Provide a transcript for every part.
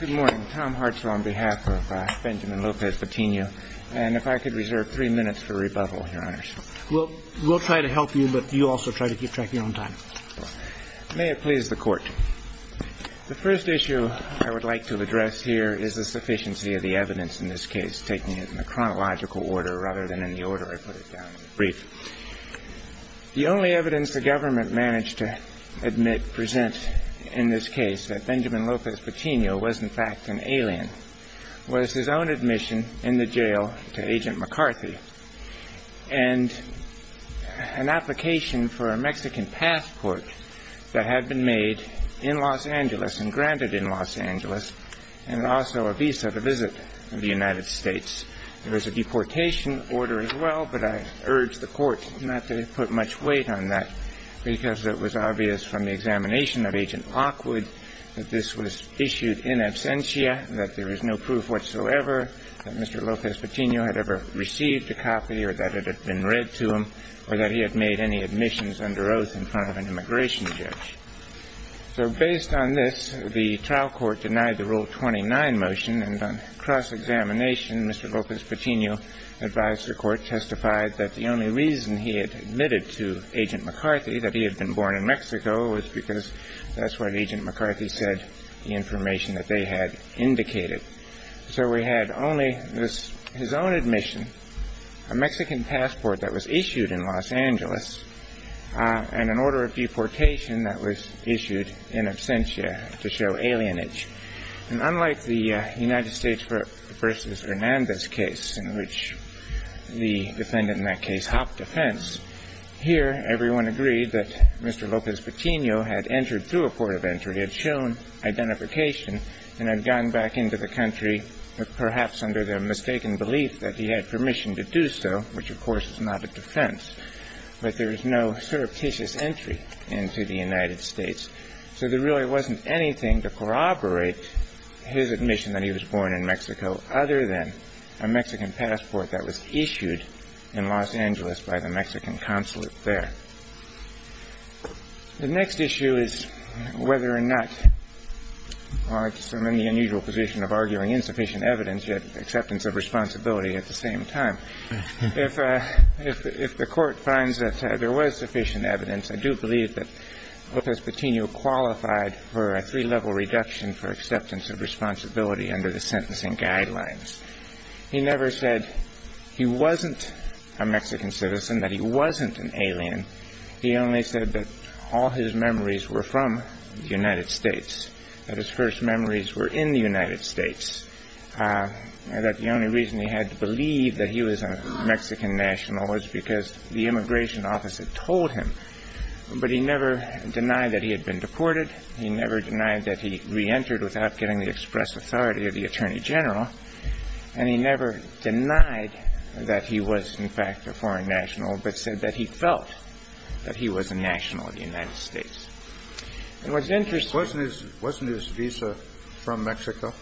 Good morning. Tom Hartzell on behalf of Benjamin Lopez-Patino. And if I could reserve three minutes for rebuttal, Your Honors. We'll try to help you, but you also try to keep track of your own time. May it please the Court. The first issue I would like to address here is the sufficiency of the evidence in this case, taking it in a chronological order rather than in the order I put it down in the brief. The only evidence the government managed to admit, present in this case, that Benjamin Lopez-Patino was in fact an alien was his own admission in the jail to Agent McCarthy and an application for a Mexican passport that had been made in Los Angeles and granted in Los Angeles and also a visa to visit the United States. There was a deportation order as well, but I urge the Court not to put much weight on that, because it was obvious from the examination of Agent Lockwood that this was issued in absentia, that there is no proof whatsoever that Mr. Lopez-Patino had ever received a copy or that it had been read to him or that he had made any admissions under oath in front of an immigration judge. So based on this, the trial court denied the Rule 29 motion, and on cross-examination, Mr. Lopez-Patino advised the Court, testified that the only reason he had admitted to Agent McCarthy that he had been born in Mexico was because that's what Agent McCarthy said, the information that they had indicated. So we had only his own admission, a Mexican passport that was issued in Los Angeles, and an order of deportation that was issued in absentia to show alienage. And unlike the United States v. Hernandez case in which the defendant in that case hopped a fence, here everyone agreed that Mr. Lopez-Patino had entered through a port of entry, had shown identification and had gone back into the country, perhaps under the mistaken belief that he had permission to do so, which, of course, is not a defense. But there is no surreptitious entry into the United States. So there really wasn't anything to corroborate his admission that he was born in Mexico, other than a Mexican passport that was issued in Los Angeles by the Mexican consulate there. The next issue is whether or not – well, I guess I'm in the unusual position of arguing insufficient evidence, yet acceptance of responsibility at the same time. If the Court finds that there was sufficient evidence, I do believe that Lopez-Patino qualified for a three-level reduction for acceptance of responsibility under the sentencing guidelines. He never said he wasn't a Mexican citizen, that he wasn't an alien. He only said that all his memories were from the United States, that his first memories were in the United States, that the only reason he had to believe that he was a Mexican national was because the immigration office had told him. But he never denied that he had been deported. He never denied that he reentered without getting the express authority of the Attorney General. And he never denied that he was, in fact, a foreign national, but said that he felt that he was a national of the United States. It was interesting to me – Wasn't his – wasn't his visa from Mexico?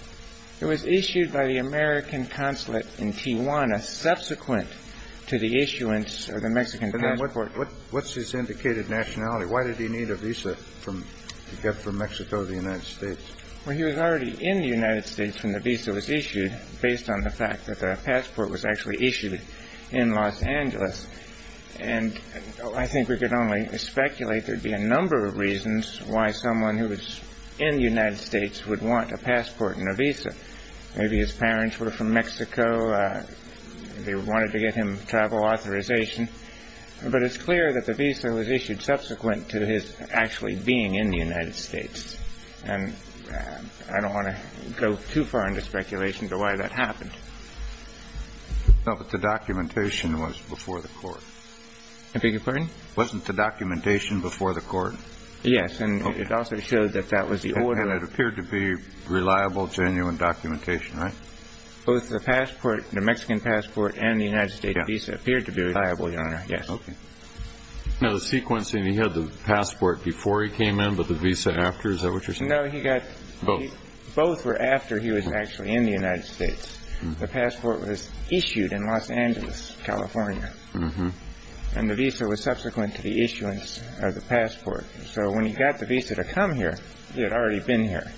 It was issued by the American consulate in Tijuana subsequent to the issuance of the Mexican passport. What's his indicated nationality? Why did he need a visa to get from Mexico to the United States? Well, he was already in the United States when the visa was issued, based on the fact that the passport was actually issued in Los Angeles. And I think we could only speculate there'd be a number of reasons why someone who was in the United States would want a passport and a visa. Maybe his parents were from Mexico, they wanted to get him travel authorization. But it's clear that the visa was issued subsequent to his actually being in the United States. And I don't want to go too far into speculation as to why that happened. No, but the documentation was before the court. I beg your pardon? Wasn't the documentation before the court? Yes, and it also showed that that was the order. And it appeared to be reliable, genuine documentation, right? Both the passport, the Mexican passport and the United States visa appeared to be reliable, Your Honor, yes. Okay. Now, the sequencing, he had the passport before he came in, but the visa after? Is that what you're saying? No, he got both. Both were after he was actually in the United States. The passport was issued in Los Angeles, California. And the visa was subsequent to the issuance of the passport. So when he got the visa to come here, he had already been here.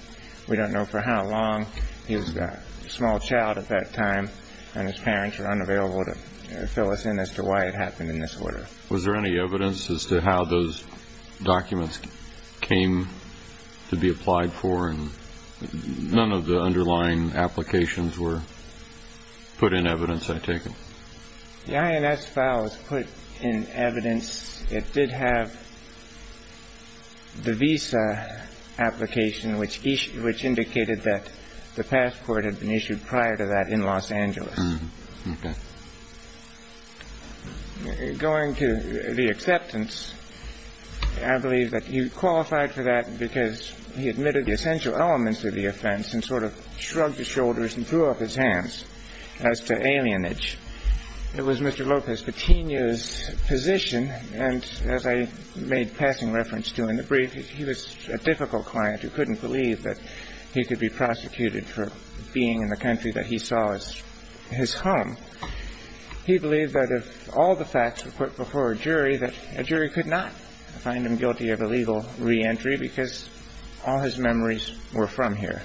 We don't know for how long he was a small child at that time, and his parents were unavailable to fill us in as to why it happened in this order. Was there any evidence as to how those documents came to be applied for? And none of the underlying applications were put in evidence, I take it? The INS file was put in evidence. It did have the visa application, which indicated that the passport had been issued prior to that in Los Angeles. Okay. Going to the acceptance, I believe that he qualified for that because he admitted the essential elements of the offense and sort of shrugged his shoulders and threw up his hands as to alienage. It was Mr. Lopez Coutinho's position, and as I made passing reference to in the brief, he was a difficult client who couldn't believe that he could be prosecuted for being in the country that he saw as his home. He believed that if all the facts were put before a jury, that a jury could not find him guilty of illegal reentry because all his memories were from here.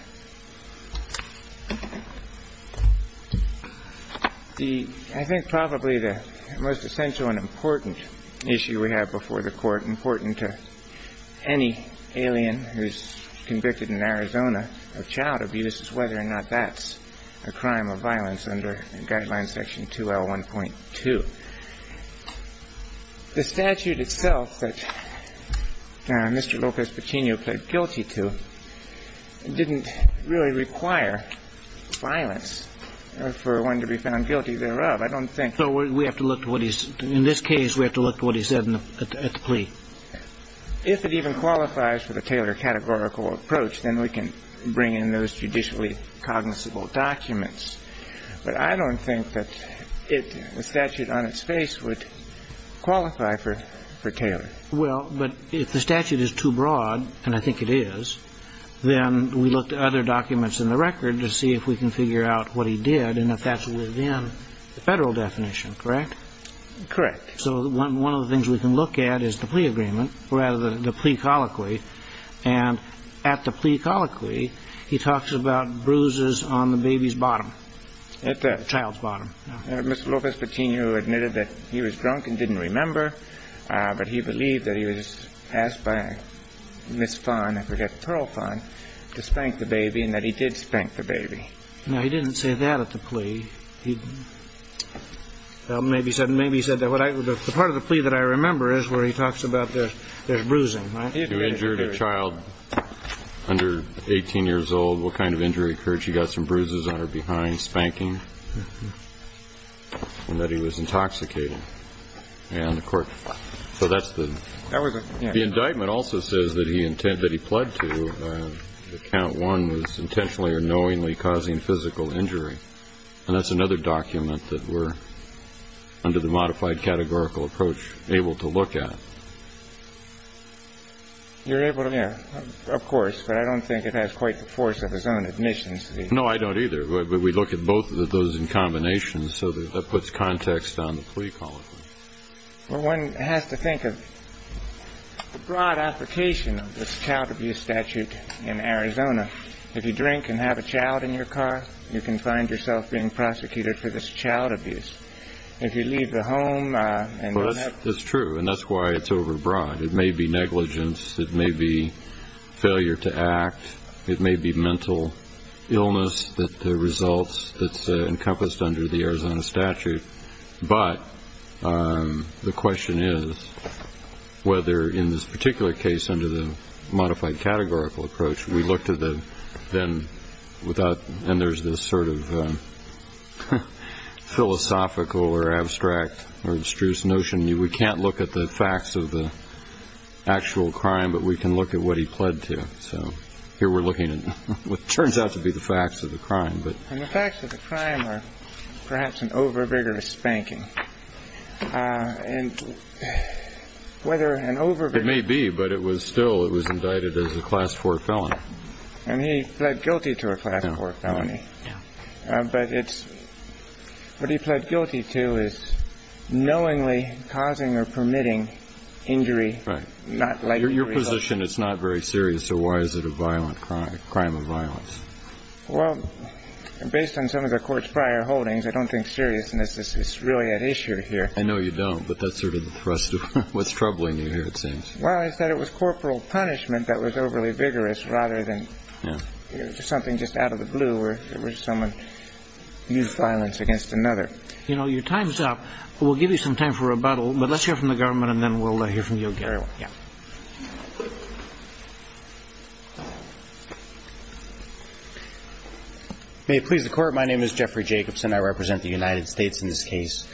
I think probably the most essential and important issue we have before the Court, important to any alien who's convicted in Arizona of child abuse, is whether or not that's a crime of violence under Guideline Section 2L1.2. The statute itself that Mr. Lopez Coutinho pled guilty to didn't really require violence for one to be found guilty thereof. I don't think so. We have to look to what he said. In this case, we have to look to what he said at the plea. If it even qualifies for the Taylor categorical approach, then we can bring in those judicially cognizable documents. But I don't think that the statute on its face would qualify for Taylor. Well, but if the statute is too broad, and I think it is, then we look to other documents in the record to see if we can figure out what he did and if that's within the Federal definition, correct? Correct. So one of the things we can look at is the plea agreement, or rather the plea colloquy. And at the plea colloquy, he talks about bruises on the baby's bottom, child's bottom. Mr. Lopez Coutinho admitted that he was drunk and didn't remember, but he believed that he was asked by Miss Fahn, I forget, Pearl Fahn, to spank the baby, and that he did spank the baby. Now, he didn't say that at the plea. He maybe said that. The part of the plea that I remember is where he talks about there's bruising, right? He injured a child under 18 years old. What kind of injury occurred? She got some bruises on her behind, spanking, and that he was intoxicated. And the court – so that's the – The indictment also says that he pled to – that count one was intentionally or knowingly causing physical injury. And that's another document that we're, under the modified categorical approach, able to look at. You're able to – yeah, of course, but I don't think it has quite the force of his own admissions. No, I don't either. But we look at both of those in combination, so that puts context on the plea colloquy. One has to think of the broad application of this child abuse statute in Arizona. If you drink and have a child in your car, you can find yourself being prosecuted for this child abuse. If you leave the home and – Well, that's true, and that's why it's overbroad. It may be negligence. It may be failure to act. It may be mental illness, the results that's encompassed under the Arizona statute. But the question is whether, in this particular case, under the modified categorical approach, we look to the – and there's this sort of philosophical or abstract or abstruse notion. We can't look at the facts of the actual crime, but we can look at what he pled to. So here we're looking at what turns out to be the facts of the crime. And the facts of the crime are perhaps an overvigorous spanking. And whether an overvigorous spanking is a crime or not, it's not a crime. It's not a crime. It's not a crime. It's not a crime. It may be, but it was still – it was indicted as a Class 4 felon. And he pled guilty to a Class 4 felony. Yeah. But it's – what he pled guilty to is knowingly causing or permitting injury – Right. – not like – In your position, it's not very serious, so why is it a violent crime, a crime of violence? Well, based on some of the court's prior holdings, I don't think seriousness is really at issue here. I know you don't, but that's sort of the thrust of what's troubling you here, it seems. Well, it's that it was corporal punishment that was overly vigorous rather than – Yeah. – something just out of the blue where someone used violence against another. You know, your time's up, but we'll give you some time for rebuttal. But let's hear from the government, and then we'll hear from you, Gary. Yeah. May it please the Court, my name is Jeffrey Jacobson. I represent the United States in this case.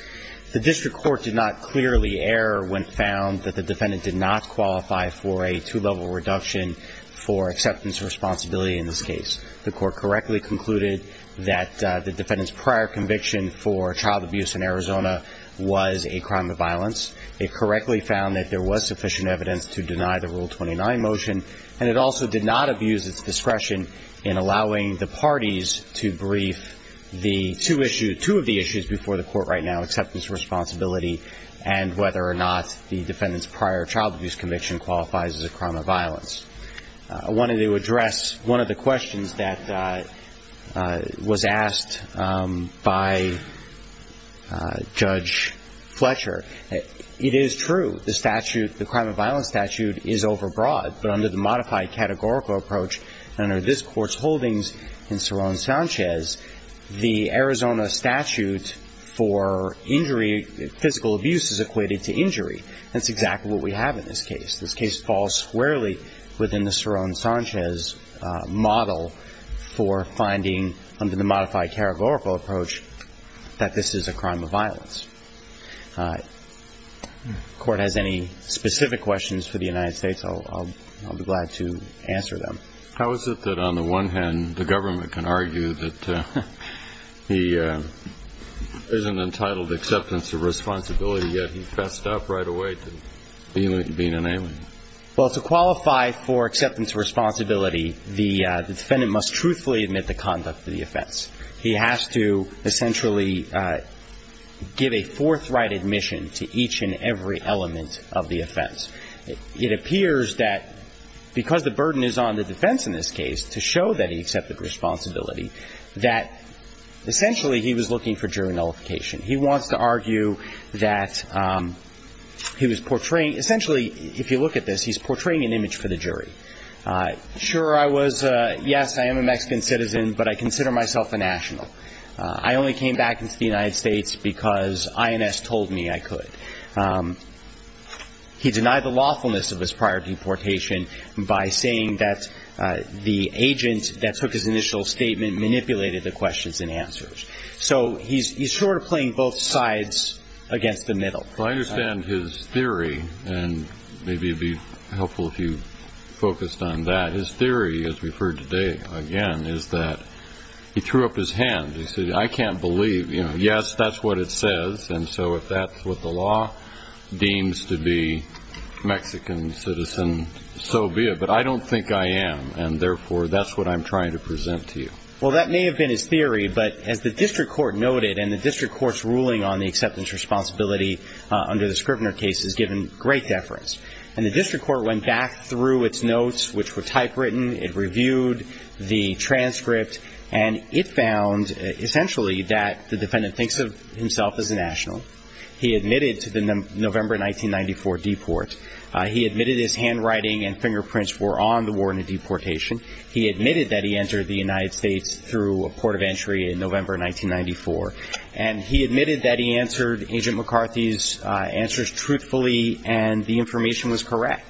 The district court did not clearly err when found that the defendant did not qualify for a two-level reduction for acceptance of responsibility in this case. The court correctly concluded that the defendant's prior conviction for child abuse in Arizona was a crime of violence. It correctly found that there was sufficient evidence to deny the Rule 29 motion, and it also did not abuse its discretion in allowing the parties to brief the two issues – two of the issues before the court right now, acceptance of responsibility and whether or not the defendant's prior child abuse conviction qualifies as a crime of violence. I wanted to address one of the questions that was asked by Judge Fletcher. It is true, the statute – the crime of violence statute is overbroad, but under the modified categorical approach under this Court's holdings in Cerrone-Sanchez, the Arizona statute for injury – physical abuse is equated to injury. That's exactly what we have in this case. This case falls squarely within the Cerrone-Sanchez model for finding, under the modified categorical approach, that this is a crime of violence. If the Court has any specific questions for the United States, I'll be glad to answer them. How is it that, on the one hand, the government can argue that he isn't entitled to acceptance of responsibility, yet he fessed up right away to being an alien? Well, to qualify for acceptance of responsibility, the defendant must truthfully admit the conduct of the offense. He has to essentially give a forthright admission to each and every element of the offense. It appears that because the burden is on the defense in this case to show that he accepted responsibility, that essentially he was looking for jury nullification. He wants to argue that he was portraying – essentially, if you look at this, he's portraying an image for the jury. Sure, I was – yes, I am a Mexican citizen, but I consider myself a national. I only came back into the United States because INS told me I could. He denied the lawfulness of his prior deportation by saying that the agent that took his initial statement manipulated the questions and answers. So he's sort of playing both sides against the middle. Well, I understand his theory, and maybe it would be helpful if you focused on that. His theory, as we've heard today again, is that he threw up his hand. He said, I can't believe. Yes, that's what it says, and so if that's what the law deems to be, Mexican citizen, so be it. But I don't think I am, and therefore that's what I'm trying to present to you. Well, that may have been his theory, but as the district court noted, and the district court's ruling on the acceptance responsibility under the Scrivener case is given great deference, and the district court went back through its notes, which were typewritten, it reviewed the transcript, and it found essentially that the defendant thinks of himself as a national. He admitted to the November 1994 deport. He admitted his handwriting and fingerprints were on the warrant of deportation. He admitted that he entered the United States through a port of entry in November 1994, and he admitted that he answered Agent McCarthy's answers truthfully and the information was correct.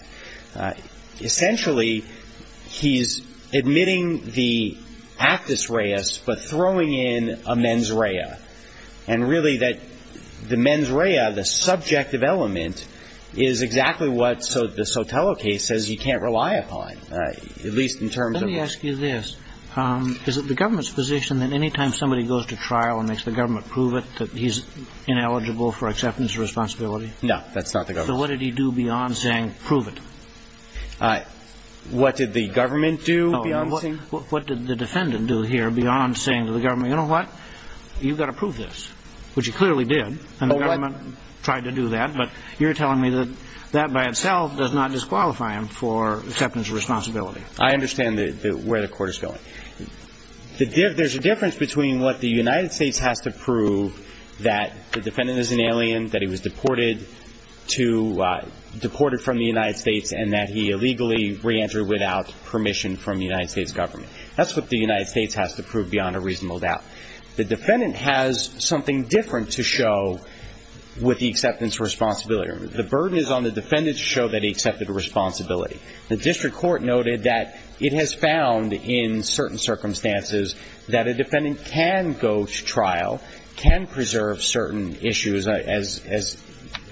Essentially, he's admitting the actus reus, but throwing in a mens rea, and really that the mens rea, the subjective element, is exactly what the Sotelo case says you can't rely upon, at least in terms of the Sotelo case. Let me ask you this. Is it the government's position that any time somebody goes to trial and makes the government prove it, that he's ineligible for acceptance of responsibility? No, that's not the government's position. So what did he do beyond saying prove it? What did the government do beyond saying? What did the defendant do here beyond saying to the government, you know what, you've got to prove this, which he clearly did, and the government tried to do that, but you're telling me that that by itself does not disqualify him for acceptance of responsibility. I understand where the court is going. There's a difference between what the United States has to prove, that the defendant is an alien, that he was deported from the United States, and that he illegally reentered without permission from the United States government. That's what the United States has to prove beyond a reasonable doubt. The defendant has something different to show with the acceptance of responsibility. The burden is on the defendant to show that he accepted responsibility. The district court noted that it has found in certain circumstances that a defendant can go to trial, can preserve certain issues as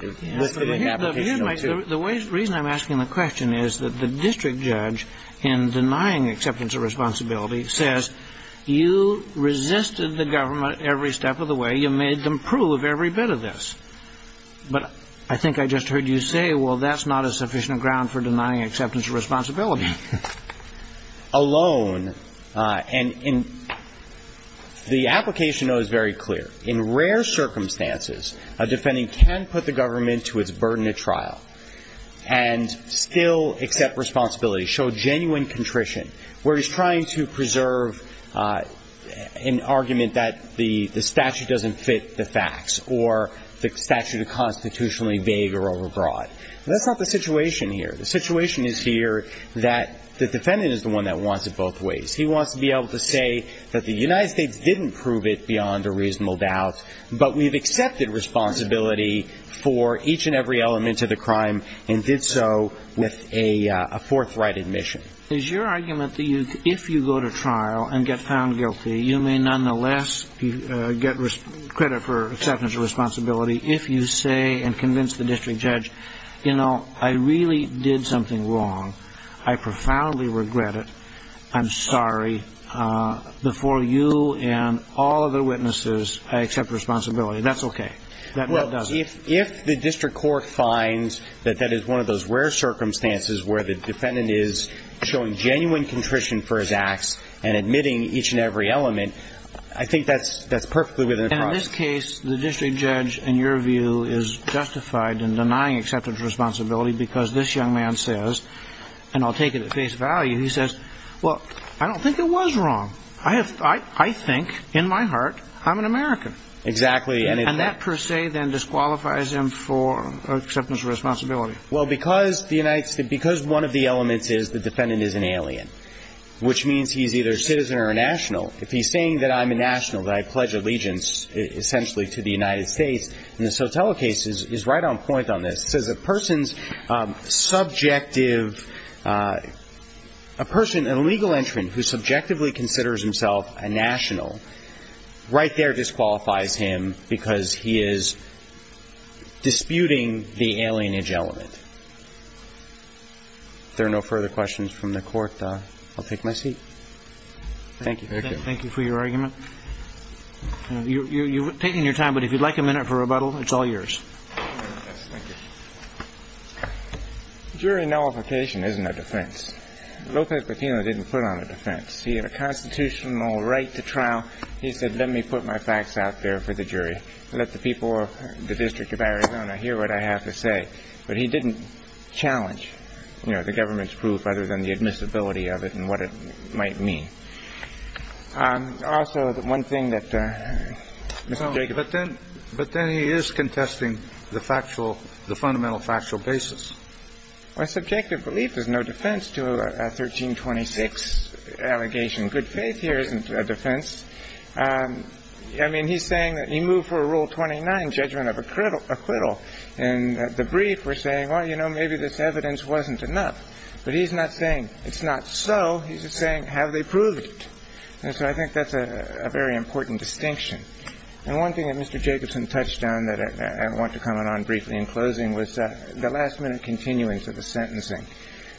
listed in the application. The reason I'm asking the question is that the district judge, in denying acceptance of responsibility, says you resisted the government every step of the way. You made them prove every bit of this. But I think I just heard you say, well, that's not a sufficient ground for denying acceptance of responsibility. Alone, and the application, though, is very clear. In rare circumstances, a defendant can put the government to its burden at trial and still accept responsibility, show genuine contrition, where he's trying to preserve an argument that the statute doesn't fit the facts or the statute is constitutionally vague or overbroad. That's not the situation here. The situation is here that the defendant is the one that wants it both ways. He wants to be able to say that the United States didn't prove it beyond a reasonable doubt, but we've accepted responsibility for each and every element of the crime and did so with a forthright admission. Is your argument that if you go to trial and get found guilty, you may nonetheless get credit for acceptance of responsibility if you say and convince the district judge, you know, I really did something wrong. I profoundly regret it. I'm sorry. Before you and all other witnesses, I accept responsibility. That's okay. That does it. If the district court finds that that is one of those rare circumstances where the defendant is showing genuine contrition for his acts and admitting each and every element, I think that's perfectly within the crime. In this case, the district judge, in your view, is justified in denying acceptance of responsibility because this young man says, and I'll take it at face value, he says, well, I don't think it was wrong. I think, in my heart, I'm an American. Exactly. And that per se then disqualifies him for acceptance of responsibility. Well, because one of the elements is the defendant is an alien, which means he's either a citizen or a national. If he's saying that I'm a national, that I pledge allegiance essentially to the United States, in the Sotelo case he's right on point on this. He says a person's subjective, a person, a legal entrant who subjectively considers himself a national, right there disqualifies him because he is disputing the alienage element. If there are no further questions from the court, I'll take my seat. Thank you. Thank you for your argument. You're taking your time, but if you'd like a minute for rebuttal, it's all yours. Yes, thank you. Jury nullification isn't a defense. Lopez-Martinez didn't put on a defense. He had a constitutional right to trial. He said, let me put my facts out there for the jury. Let the people of the District of Arizona hear what I have to say. But he didn't challenge, you know, the government's proof other than the admissibility of it and what it might mean. Also, the one thing that Mr. Jacobson. But then he is contesting the factual, the fundamental factual basis. Well, subjective belief is no defense to a 1326 allegation. Good faith here isn't a defense. I mean, he's saying that he moved for a Rule 29 judgment of acquittal. In the brief, we're saying, well, you know, maybe this evidence wasn't enough. But he's not saying it's not so. He's just saying, have they proved it? And so I think that's a very important distinction. And one thing that Mr. Jacobson touched on that I want to comment on briefly in closing was the last-minute continuance of the sentencing.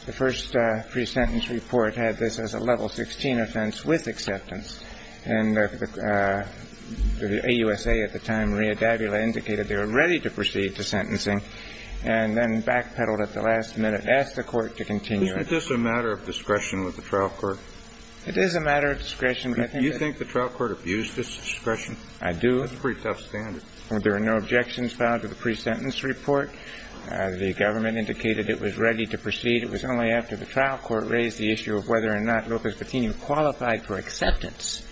The first pre-sentence report had this as a Level 16 offense with acceptance. And the AUSA at the time, Maria Davila, indicated they were ready to proceed to sentencing and then backpedaled at the last minute, asked the Court to continue it. Isn't this a matter of discretion with the trial court? It is a matter of discretion. Do you think the trial court abused this discretion? I do. That's a pretty tough standard. There are no objections filed to the pre-sentence report. The government indicated it was ready to proceed. It was only after the trial court raised the issue of whether or not Lopez Patino qualified for acceptance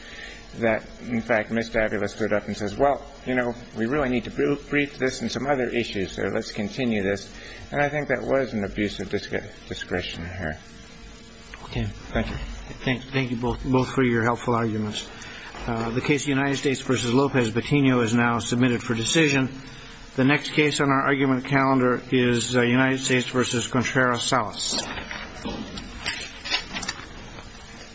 that, in fact, Ms. Davila stood up and says, well, you know, we really need to brief this and some other issues there. Let's continue this. And I think that was an abuse of discretion there. Okay. Thank you. Thank you both for your helpful arguments. The case of United States v. Lopez Patino is now submitted for decision. The next case on our argument calendar is United States v. Contreras-Salas.